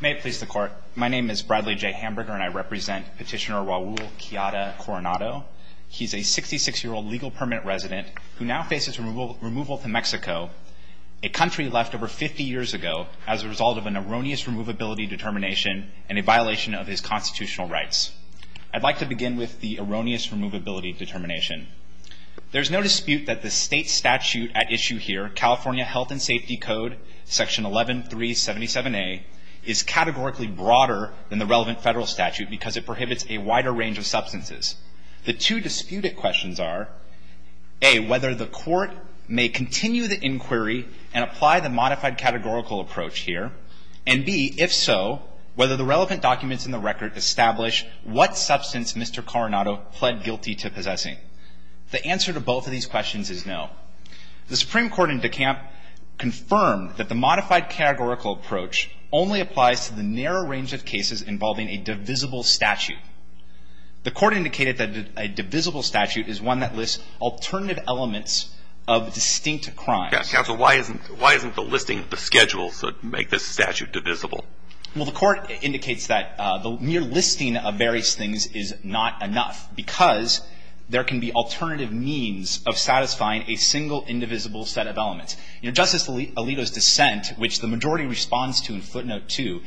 May it please the court. My name is Bradley J Hamburger and I represent Petitioner Raul Quijada Coronado. He's a 66 year old legal permanent resident who now faces removal removal to Mexico, a country left over 50 years ago as a result of an erroneous removability determination and a violation of his constitutional rights. I'd like to begin with the erroneous removability determination. There's no dispute that the state statute at issue here, California Health and Safety Code, Section 11377A, is categorically broader than the relevant federal statute because it prohibits a wider range of substances. The two disputed questions are, A, whether the court may continue the inquiry and apply the modified categorical approach here, and B, if so, whether the relevant documents in the record establish what substance Mr. Coronado pled guilty to possessing. The answer to both of these questions is no. The Supreme Court in DeKalb confirmed that the modified categorical approach only applies to the narrow range of cases involving a divisible statute. The court indicated that a divisible statute is one that lists alternative elements of distinct crimes. Yeah. Counsel, why isn't the listing of the schedules that make this statute divisible? Well, the court indicates that the mere listing of various things is not enough because there can be alternative means of satisfying a single indivisible set of elements. Justice Alito's dissent, which the majority responds to in footnote 2,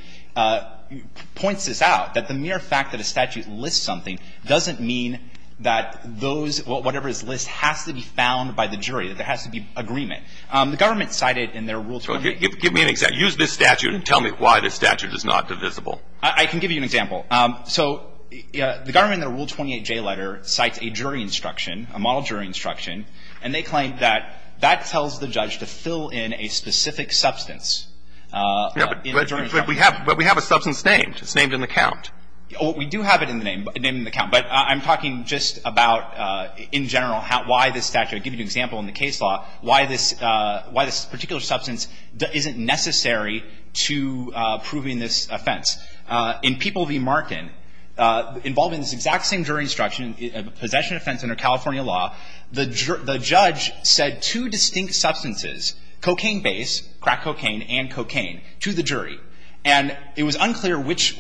points this out, that the mere fact that a statute lists something doesn't mean that those or whatever is listed has to be found by the jury, that there has to be agreement. The government cited in their Rule 28J – Give me an example. Use this statute and tell me why this statute is not divisible. I can give you an example. So the government in their Rule 28J letter cites a jury instruction, a model jury instruction, and they claim that that tells the judge to fill in a specific substance. Yeah, but we have a substance named. It's named in the count. We do have it in the name, named in the count. But I'm talking just about in general why this statute – I'll give you an example in the case law – why this particular substance isn't necessary to proving this offense. In People v. Markin, involving this exact same jury instruction, a possession offense under California law, the judge said two distinct substances, cocaine base, crack cocaine, and cocaine, to the jury. And it was unclear which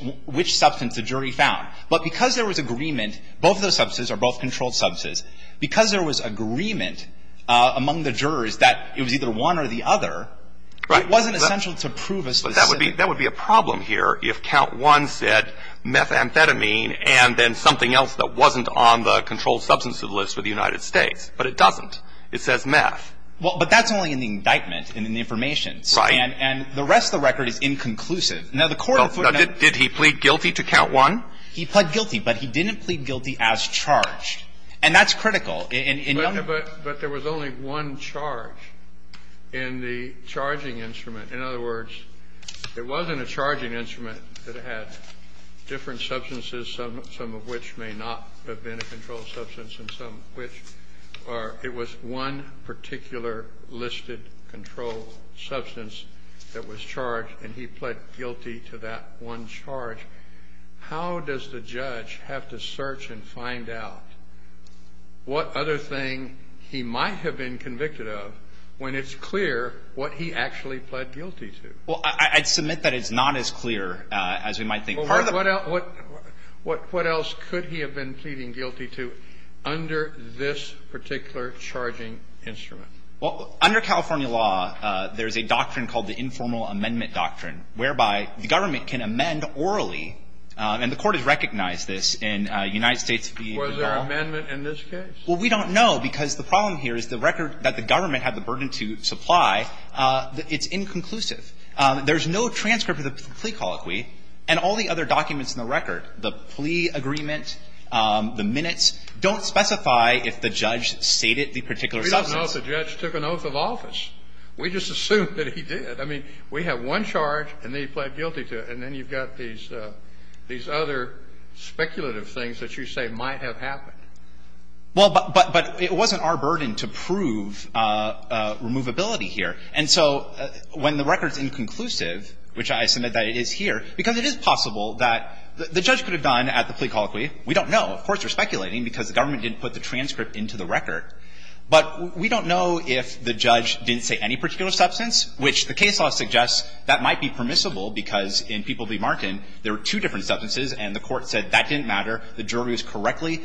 substance the jury found. But because there was agreement – both of those substances are both controlled substances – because there was agreement among the jurors that it was either one or the other, it wasn't essential to prove a specific – Right. But that would be a problem here if count one said methamphetamine and then something else that wasn't on the controlled substances list for the United States. But it doesn't. It says meth. Well, but that's only in the indictment and in the information. Right. And the rest of the record is inconclusive. Now, the court – Now, did he plead guilty to count one? He pled guilty, but he didn't plead guilty as charged. And that's critical. In – But there was only one charge in the charging instrument. In other words, it wasn't a charging instrument that had different substances, some of which may not have been a controlled substance and some which are – it was one particular listed controlled substance that was charged, and he pled guilty to that one charge. How does the judge have to search and find out what other thing he might have been convicted of when it's clear what he actually pled guilty to? Well, I'd submit that it's not as clear as we might think. Part of the – Well, what else – what else could he have been pleading guilty to under this particular charging instrument? Well, under California law, there's a doctrine called the informal amendment doctrine, whereby the government can amend orally, and the court has recognized this in United States v. McGraw. Was there an amendment in this case? Well, we don't know, because the problem here is the record that the government had the burden to supply, it's inconclusive. There's no transcript of the plea colloquy, and all the other documents in the record, the plea agreement, the minutes, don't specify if the judge stated the particular substance. We don't know if the judge took an oath of office. We just assume that he did. I mean, we have one charge, and then he pled guilty to it, and then you've got these other speculative things that you say might have happened. Well, but it wasn't our burden to prove removability here. And so when the record is inconclusive, which I submit that it is here, because it is possible that the judge could have done at the plea colloquy. We don't know. Of course, we're speculating, because the government didn't put the transcript into the record. But we don't know if the judge didn't say any particular substance, which the case law suggests that might be permissible, because in People v. Martin, there were two different substances, and the Court said that didn't matter, the jury was correctly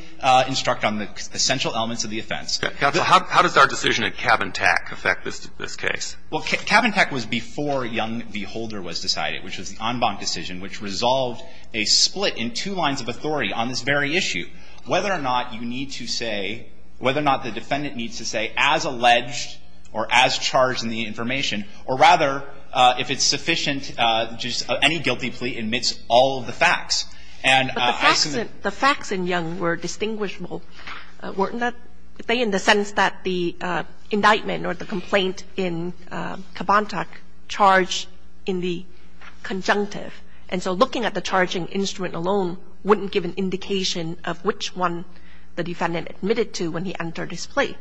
instruct on the essential elements of the offense. Counsel, how does our decision at Cabin Tech affect this case? Well, Cabin Tech was before Young v. Holder was decided, which was the en banc decision, which resolved a split in two lines of authority on this very issue. Whether or not you need to say – whether or not the defendant needs to say, as alleged or as charged in the information, or rather, if it's sufficient, just any guilty plea admits all of the facts. And I submit – But the facts in Young were distinguishable, weren't they, in the sense that the indictment or the complaint in Cabin Tech charged in the conjunctive? And so looking at the charging instrument alone wouldn't give an indication of which one the defendant admitted to when he entered his plea.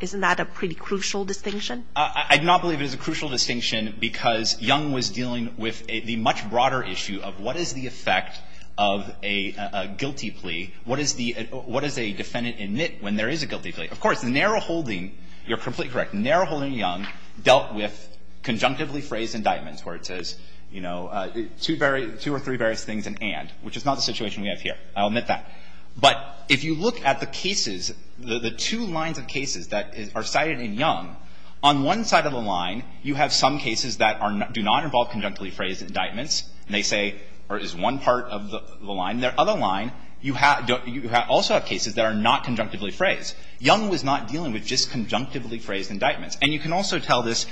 Isn't that a pretty crucial distinction? I do not believe it is a crucial distinction, because Young was dealing with the much broader issue of what is the effect of a guilty plea? What is the – what does a defendant admit when there is a guilty plea? Of course, the narrow holding – you're completely correct – narrow holding in Young dealt with conjunctively phrased indictments, where it says, you know, two or three various things in and, which is not the situation we have here. I'll admit that. But if you look at the cases, the two lines of cases that are cited in Young, on one side of the line, you have some cases that do not involve conjunctively phrased indictments, and they say – or is one part of the line. The other line, you also have cases that are not conjunctively phrased. Young was not dealing with just conjunctively phrased indictments. And you can also tell this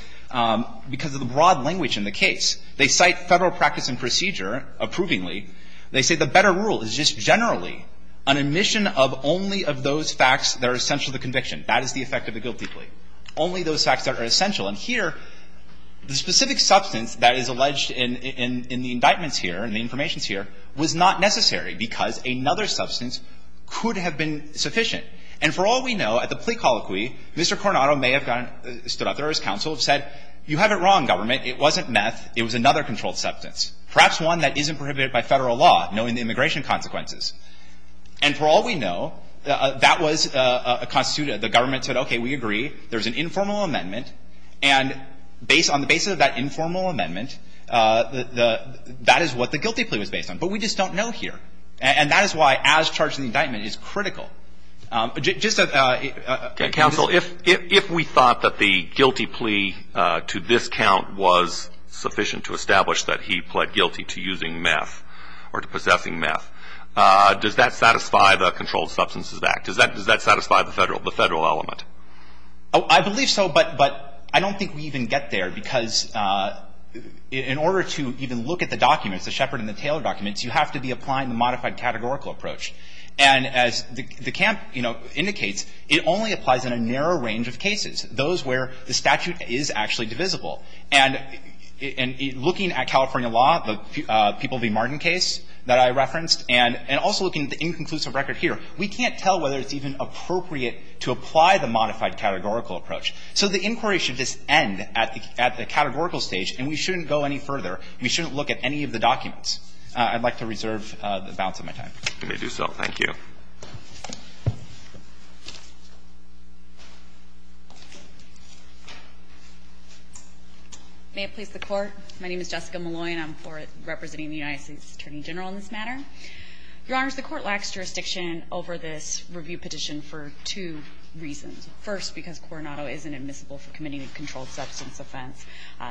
because of the broad language in the case. They cite Federal practice and procedure approvingly. They say the better rule is just generally an admission of only of those facts that are essential to the conviction. That is the effect of a guilty plea. Only those facts that are essential. And here, the specific substance that is alleged in the indictments here, in the information here, was not necessary, because another substance could have been sufficient. And for all we know, at the plea colloquy, Mr. Coronado may have gone – stood up there as counsel and said, you have it wrong, government. It wasn't meth. It was another controlled substance, perhaps one that isn't prohibited by Federal law, knowing the immigration consequences. And for all we know, that was a constituted – the government said, okay, we agree. There's an informal amendment. And based on the basis of that informal amendment, the – that is what the guilty plea was based on. But we just don't know here. And that is why, as charged in the indictment, it's critical. Just a – Okay. Counsel, if – if we thought that the guilty plea to this count was sufficient to establish that he pled guilty to using meth, or to possessing meth, does that satisfy the Controlled Substances Act? Does that – does that satisfy the Federal – the Federal element? I believe so, but – but I don't think we even get there, because in order to even look at the documents, the Shepard and the Taylor documents, you have to be applying the modified categorical approach. And as the – the camp, you know, indicates, it only applies in a narrow range of cases, those where the statute is actually divisible. And – and looking at California law, the People v. Martin case that I referenced, and – and also looking at the inconclusive record here, we can't tell whether it's even appropriate to apply the modified categorical approach. So the inquiry should just end at the – at the categorical stage, and we shouldn't go any further. We shouldn't look at any of the documents. I'd like to reserve the balance of my time. You may do so. Thank you. May it please the Court. My name is Jessica Molloy, and I'm for representing the United States Attorney General in this matter. Your Honors, the Court lacks jurisdiction over this review petition for two reasons. First, because Coronado isn't admissible for committing a controlled substance offense.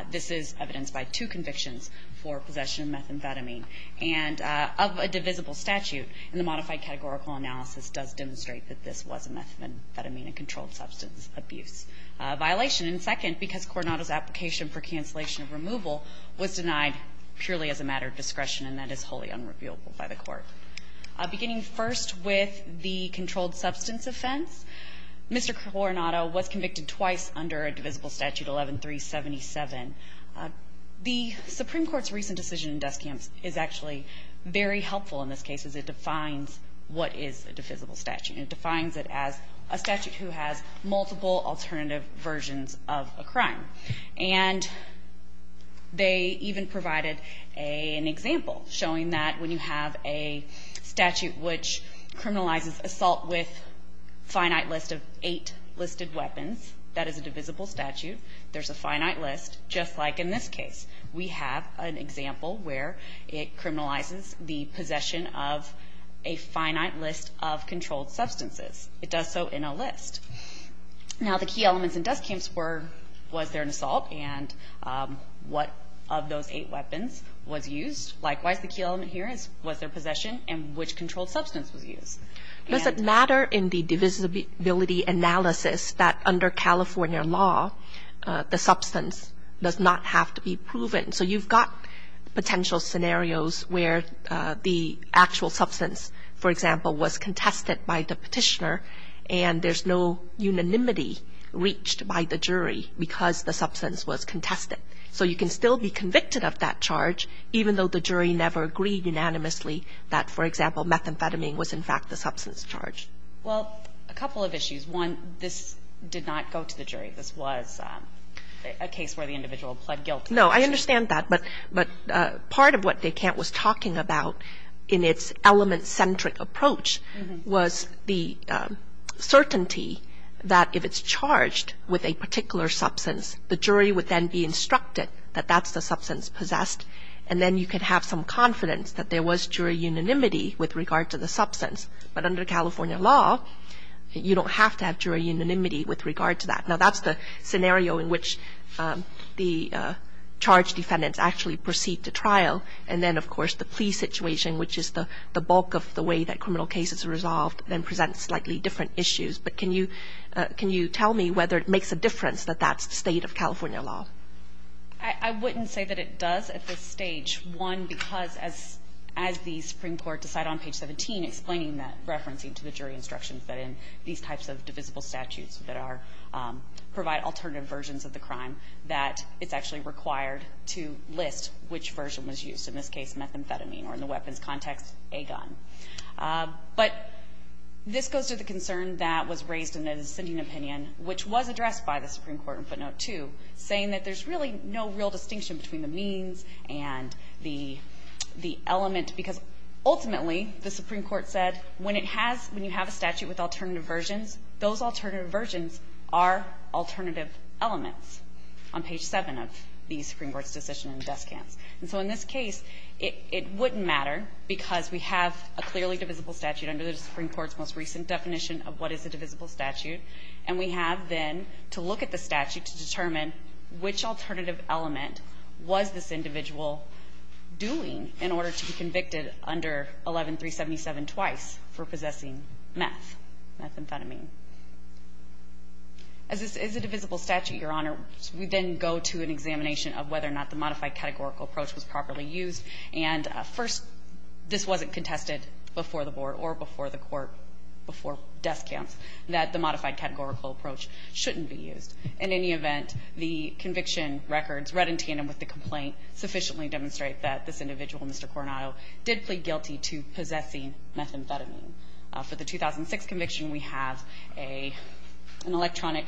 This is evidenced by two convictions for possession of methamphetamine, and of a divisible statute. And the modified categorical analysis does demonstrate that this was a methamphetamine and controlled substance abuse violation. And second, because Coronado's application for cancellation of removal was denied purely as a matter of discretion, and that is wholly unrevealable by the Court. Beginning first with the controlled substance offense, Mr. Coronado was convicted twice under a divisible statute, 11-377. The Supreme Court's recent decision in Duskamp is actually very helpful in this case, as it defines what is a divisible statute. And it defines it as a statute who has multiple alternative versions of a crime. And they even provided a – an example showing that when you have a statute which criminalizes assault with a finite list of eight listed weapons, that is a divisible statute. There's a finite list, just like in this case. We have an example where it criminalizes the possession of a finite list of controlled substances. It does so in a list. Now, the key elements in Duskamp were, was there an assault? And what of those eight weapons was used? Likewise, the key element here is, was there possession? And which controlled substance was used? And – Does it matter in the divisibility analysis that under California law, the substance does not have to be proven? So you've got potential scenarios where the actual substance, for example, was contested by the petitioner, and there's no unanimity reached by the jury because the substance was contested. So you can still be convicted of that charge, even though the jury never agreed unanimously that, for example, methamphetamine was, in fact, the substance charged. Well, a couple of issues. One, this did not go to the jury. This was a case where the individual pled guilt. No. I understand that. But – but part of what Descant was talking about in its element-centric approach was the certainty that if it's charged with a particular substance, the jury would then be instructed that that's the substance possessed, and then you could have some confidence that there was jury unanimity with regard to the substance. But under California law, you don't have to have jury unanimity with regard to that. Now, that's the scenario in which the charge defendants actually proceed to trial. And then, of course, the plea situation, which is the bulk of the way that criminal cases are resolved, then presents slightly different issues. But can you – can you tell me whether it makes a difference that that's the state of California law? I wouldn't say that it does at this stage. One, because as – as the Supreme Court decided on page 17 explaining that, referencing to the jury instructions that in these types of divisible statutes that are – provide alternative versions of the crime, that it's actually required to list which version was used, in this case, methamphetamine, or in the weapons context, a gun. But this goes to the concern that was raised in the dissenting opinion, which was addressed by the Supreme Court in footnote 2, saying that there's really no real distinction between the means and the – the element, because ultimately, the Supreme Court said when it has – when you have a statute with alternative versions, those alternative versions are alternative elements on page 7 of the Supreme Court's decision in Descamps. And so in this case, it – it wouldn't matter, because we have a clearly divisible statute under the Supreme Court's most recent definition of what is a divisible statute, and we have then to look at the statute to determine which alternative element was this individual doing in order to be convicted under 11-377 twice for possessing meth, methamphetamine. As this is a divisible statute, Your Honor, we then go to an examination of whether or not the modified categorical approach was properly used. And first, this wasn't contested before the Board or before the Court before Descamps that the modified categorical approach shouldn't be used. In any event, the conviction records read in tandem with the complaint sufficiently demonstrate that this individual, Mr. Coronado, did plead guilty to possessing methamphetamine. For the 2006 conviction, we have a – an electronic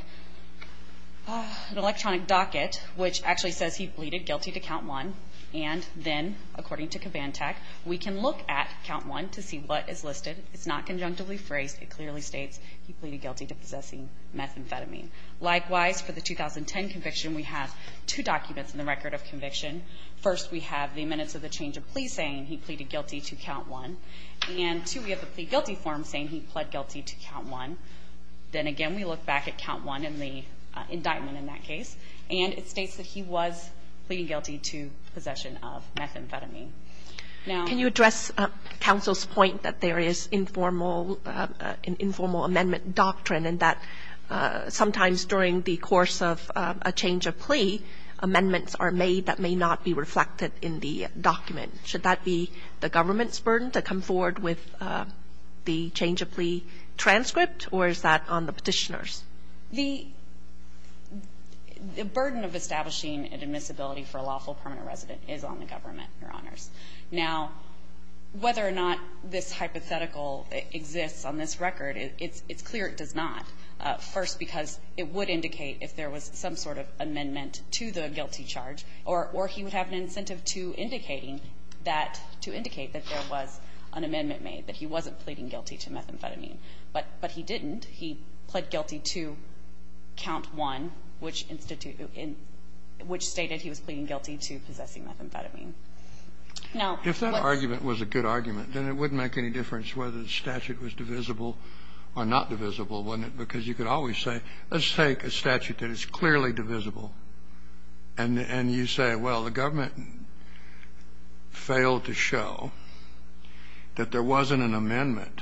– an electronic docket which actually says he pleaded guilty to count one. And then, according to Kavantech, we can look at count one to see what is listed. It's not conjunctively phrased. It clearly states he pleaded guilty to possessing methamphetamine. Likewise, for the 2010 conviction, we have two documents in the record of conviction. First, we have the minutes of the change of plea saying he pleaded guilty to count one. And two, we have the plea guilty form saying he pled guilty to count one. Then, again, we look back at count one in the indictment in that case. And it states that he was pleading guilty to possession of methamphetamine. Now – Can you address counsel's point that there is informal – an informal amendment doctrine and that sometimes during the course of a change of plea, amendments are made that may not be reflected in the document? Should that be the government's The burden of establishing an admissibility for a lawful permanent resident is on the government, Your Honors. Now, whether or not this hypothetical exists on this record, it's clear it does not. First, because it would indicate if there was some sort of amendment to the guilty charge, or he would have an incentive to indicating an amendment made, that he wasn't pleading guilty to methamphetamine. But he didn't. He pled guilty to count one, which stated he was pleading guilty to possessing methamphetamine. Now – If that argument was a good argument, then it wouldn't make any difference whether the statute was divisible or not divisible, wouldn't it? Because you could always say, let's take a statute that is clearly divisible, and you say, well, the that there wasn't an amendment.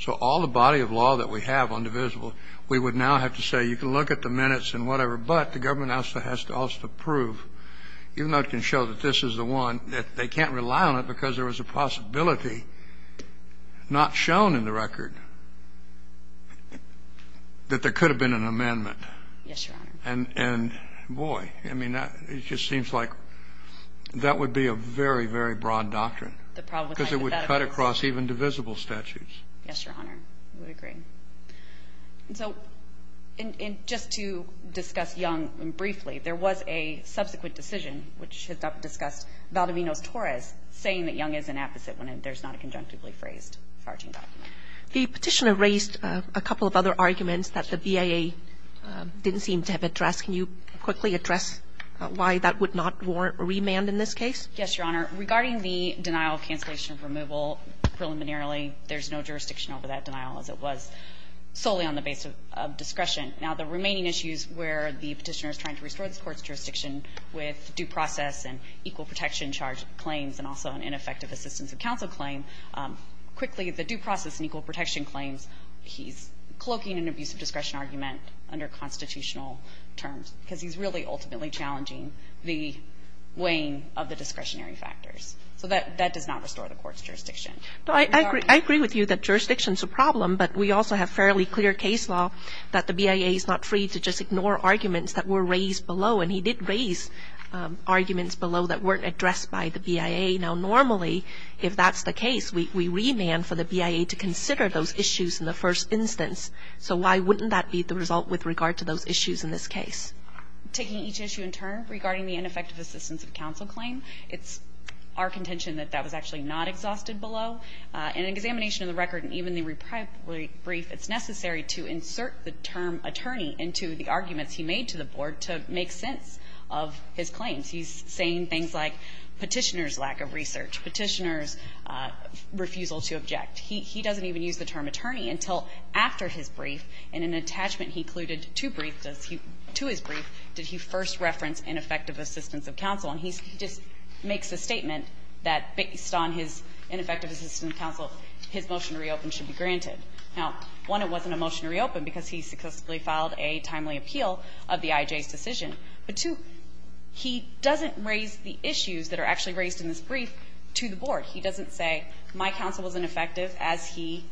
So all the body of law that we have on divisible, we would now have to say, you can look at the minutes and whatever, but the government also has to prove, even though it can show that this is the one, that they can't rely on it because there was a possibility not shown in the record that there could have been an amendment. Yes, Your Honor. And boy, I mean, it just seems like that would be a very, very broad doctrine. Because it would cut across even divisible statutes. Yes, Your Honor. I would agree. And so just to discuss Young briefly, there was a subsequent decision which had discussed Valdivino's Torres saying that Young is an apposite when there's not a conjunctively phrased charging document. The Petitioner raised a couple of other arguments that the BIA didn't seem to have addressed. Can you quickly address why that would not warrant a remand in this case? Yes, Your Honor. Regarding the denial of cancellation of removal preliminarily, there's no jurisdiction over that denial, as it was solely on the basis of discretion. Now, the remaining issues where the Petitioner is trying to restore this Court's jurisdiction with due process and equal protection charge claims and also an ineffective assistance of counsel claim, quickly, the due process and equal protection claims, he's cloaking an abuse of discretion argument under constitutional terms. Because he's really ultimately challenging the weighing of the discretionary factors. So that does not restore the Court's jurisdiction. No, I agree with you that jurisdiction's a problem, but we also have fairly clear case law that the BIA is not free to just ignore arguments that were raised below. And he did raise arguments below that weren't addressed by the BIA. Now, normally, if that's the case, we remand for the BIA to consider those issues in the first instance. So why wouldn't that be the result with regard to those issues in this case? Taking each issue in turn, regarding the ineffective assistance of counsel claim, it's our contention that that was actually not exhausted below. In an examination of the record and even the reprieve brief, it's necessary to insert the term attorney into the arguments he made to the Board to make sense of his claims. He's saying things like Petitioner's lack of research, Petitioner's refusal to review after his brief, and in an attachment he alluded to brief, to his brief, did he first reference ineffective assistance of counsel. And he just makes a statement that based on his ineffective assistance of counsel, his motion to reopen should be granted. Now, one, it wasn't a motion to reopen because he successfully filed a timely appeal of the IJ's decision. But two, he doesn't raise the issues that are actually raised in this brief to the Board. He doesn't say, my counsel was ineffective, as he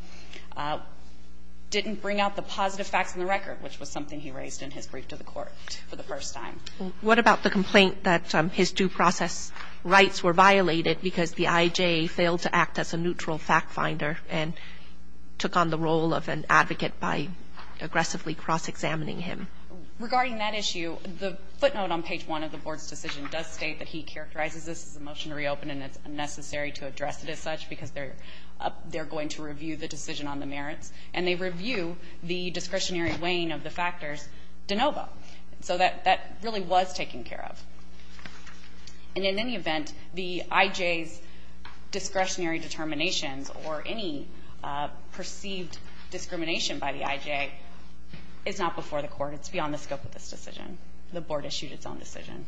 didn't bring out the positive facts in the record, which was something he raised in his brief to the Court for the first time. What about the complaint that his due process rights were violated because the IJ failed to act as a neutral fact finder and took on the role of an advocate by aggressively cross-examining him? Regarding that issue, the footnote on page 1 of the Board's decision does state that he characterizes this as a motion to reopen, and it's unnecessary to address it as such, because they're going to review the decision on the merits, and they review the discretionary weighing of the factors de novo. So that really was taken care of. And in any event, the IJ's discretionary determinations or any perceived discrimination by the IJ is not before the Court. It's beyond the scope of this decision. The Board issued its own decision.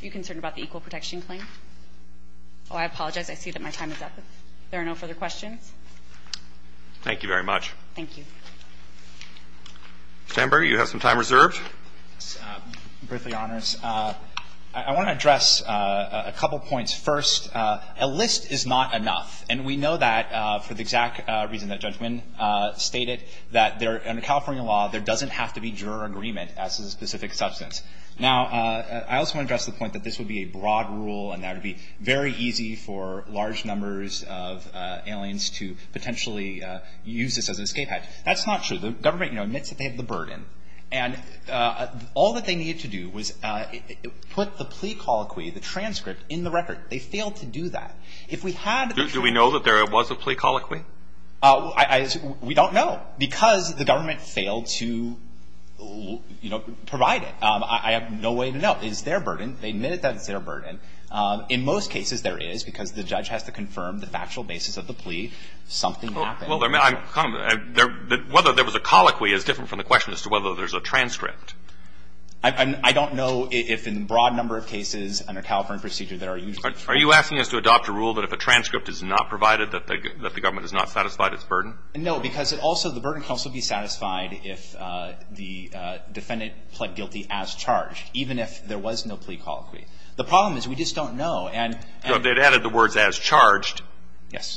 Are you concerned about the equal protection claim? Oh, I apologize. I see that my time is up. If there are no further questions. Thank you very much. Thank you. Mr. Amburger, you have some time reserved. Briefly, Your Honors. I want to address a couple points. First, a list is not enough. And we know that for the exact reason that Judge Wynn stated, that there under California law, there doesn't have to be juror agreement as to the specific substance. Now, I also want to address the point that this would be a broad rule, and that would be very easy for large numbers of aliens to potentially use this as an escape hatch. That's not true. The government, you know, admits that they have the burden. And all that they needed to do was put the plea colloquy, the transcript, in the record. They failed to do that. If we had the transcript. Do we know that there was a plea colloquy? We don't know. Because the government failed to, you know, provide it. I have no way to know. Is there a burden? They admit that it's their burden. In most cases, there is, because the judge has to confirm the factual basis of the plea. Something happened. Well, I'm kind of — whether there was a colloquy is different from the question as to whether there's a transcript. I don't know if in a broad number of cases under California procedure, there are usually transcripts. Are you asking us to adopt a rule that if a transcript is not provided, that the government is not satisfied its burden? No, because it also — the burden can also be satisfied if the defendant pled guilty as charged, even if there was no plea colloquy. The problem is, we just don't know. If they'd added the words, as charged,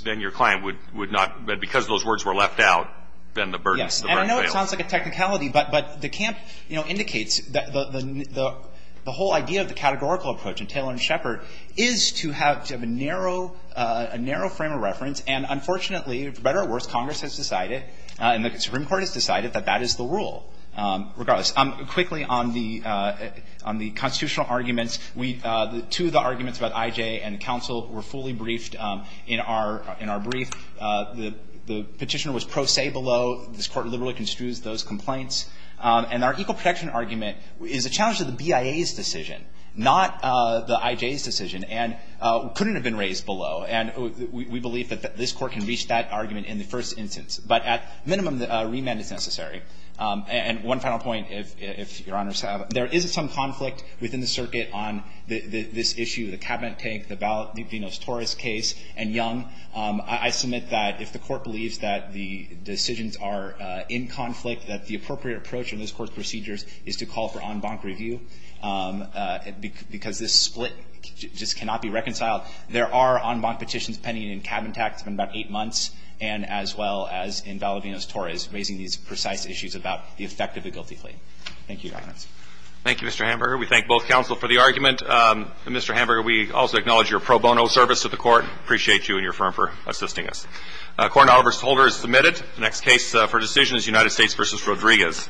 then your client would not — because those words were left out, then the burden — Yes, and I know it sounds like a technicality, but the camp, you know, indicates that the whole idea of the categorical approach in Taylor and Shepard is to have a narrow frame of reference. And unfortunately, for better or worse, Congress has decided, and the Supreme Court has decided, that that is the rule, regardless. Quickly, on the constitutional arguments, we — two of the arguments about I.J. and counsel were fully briefed in our brief. The petitioner was pro se below. This Court liberally construes those complaints. And our equal protection argument is a challenge to the BIA's decision, not the I.J.'s decision. And it couldn't have been raised below. And we believe that this Court can reach that argument in the first instance. But at minimum, remand is necessary. And one final point, if Your Honors have it. There is some conflict within the circuit on this issue, the cabinet tank, the Valentinos-Torres case, and Young. I submit that if the Court believes that the decisions are in conflict, that the appropriate approach in this Court's procedures is to call for en banc review, because this split just cannot be reconciled. There are en banc petitions pending in cabinet tanks in about eight months, and as well as in Valentinos-Torres, raising these precise issues about the effect of a guilty plea. Thank you, Your Honors. Thank you, Mr. Hamburger. We thank both counsel for the argument. And, Mr. Hamburger, we also acknowledge your pro bono service to the Court, and appreciate you and your firm for assisting us. The court now, versus Holder, is submitted. The next case for decision is United States versus Rodriguez.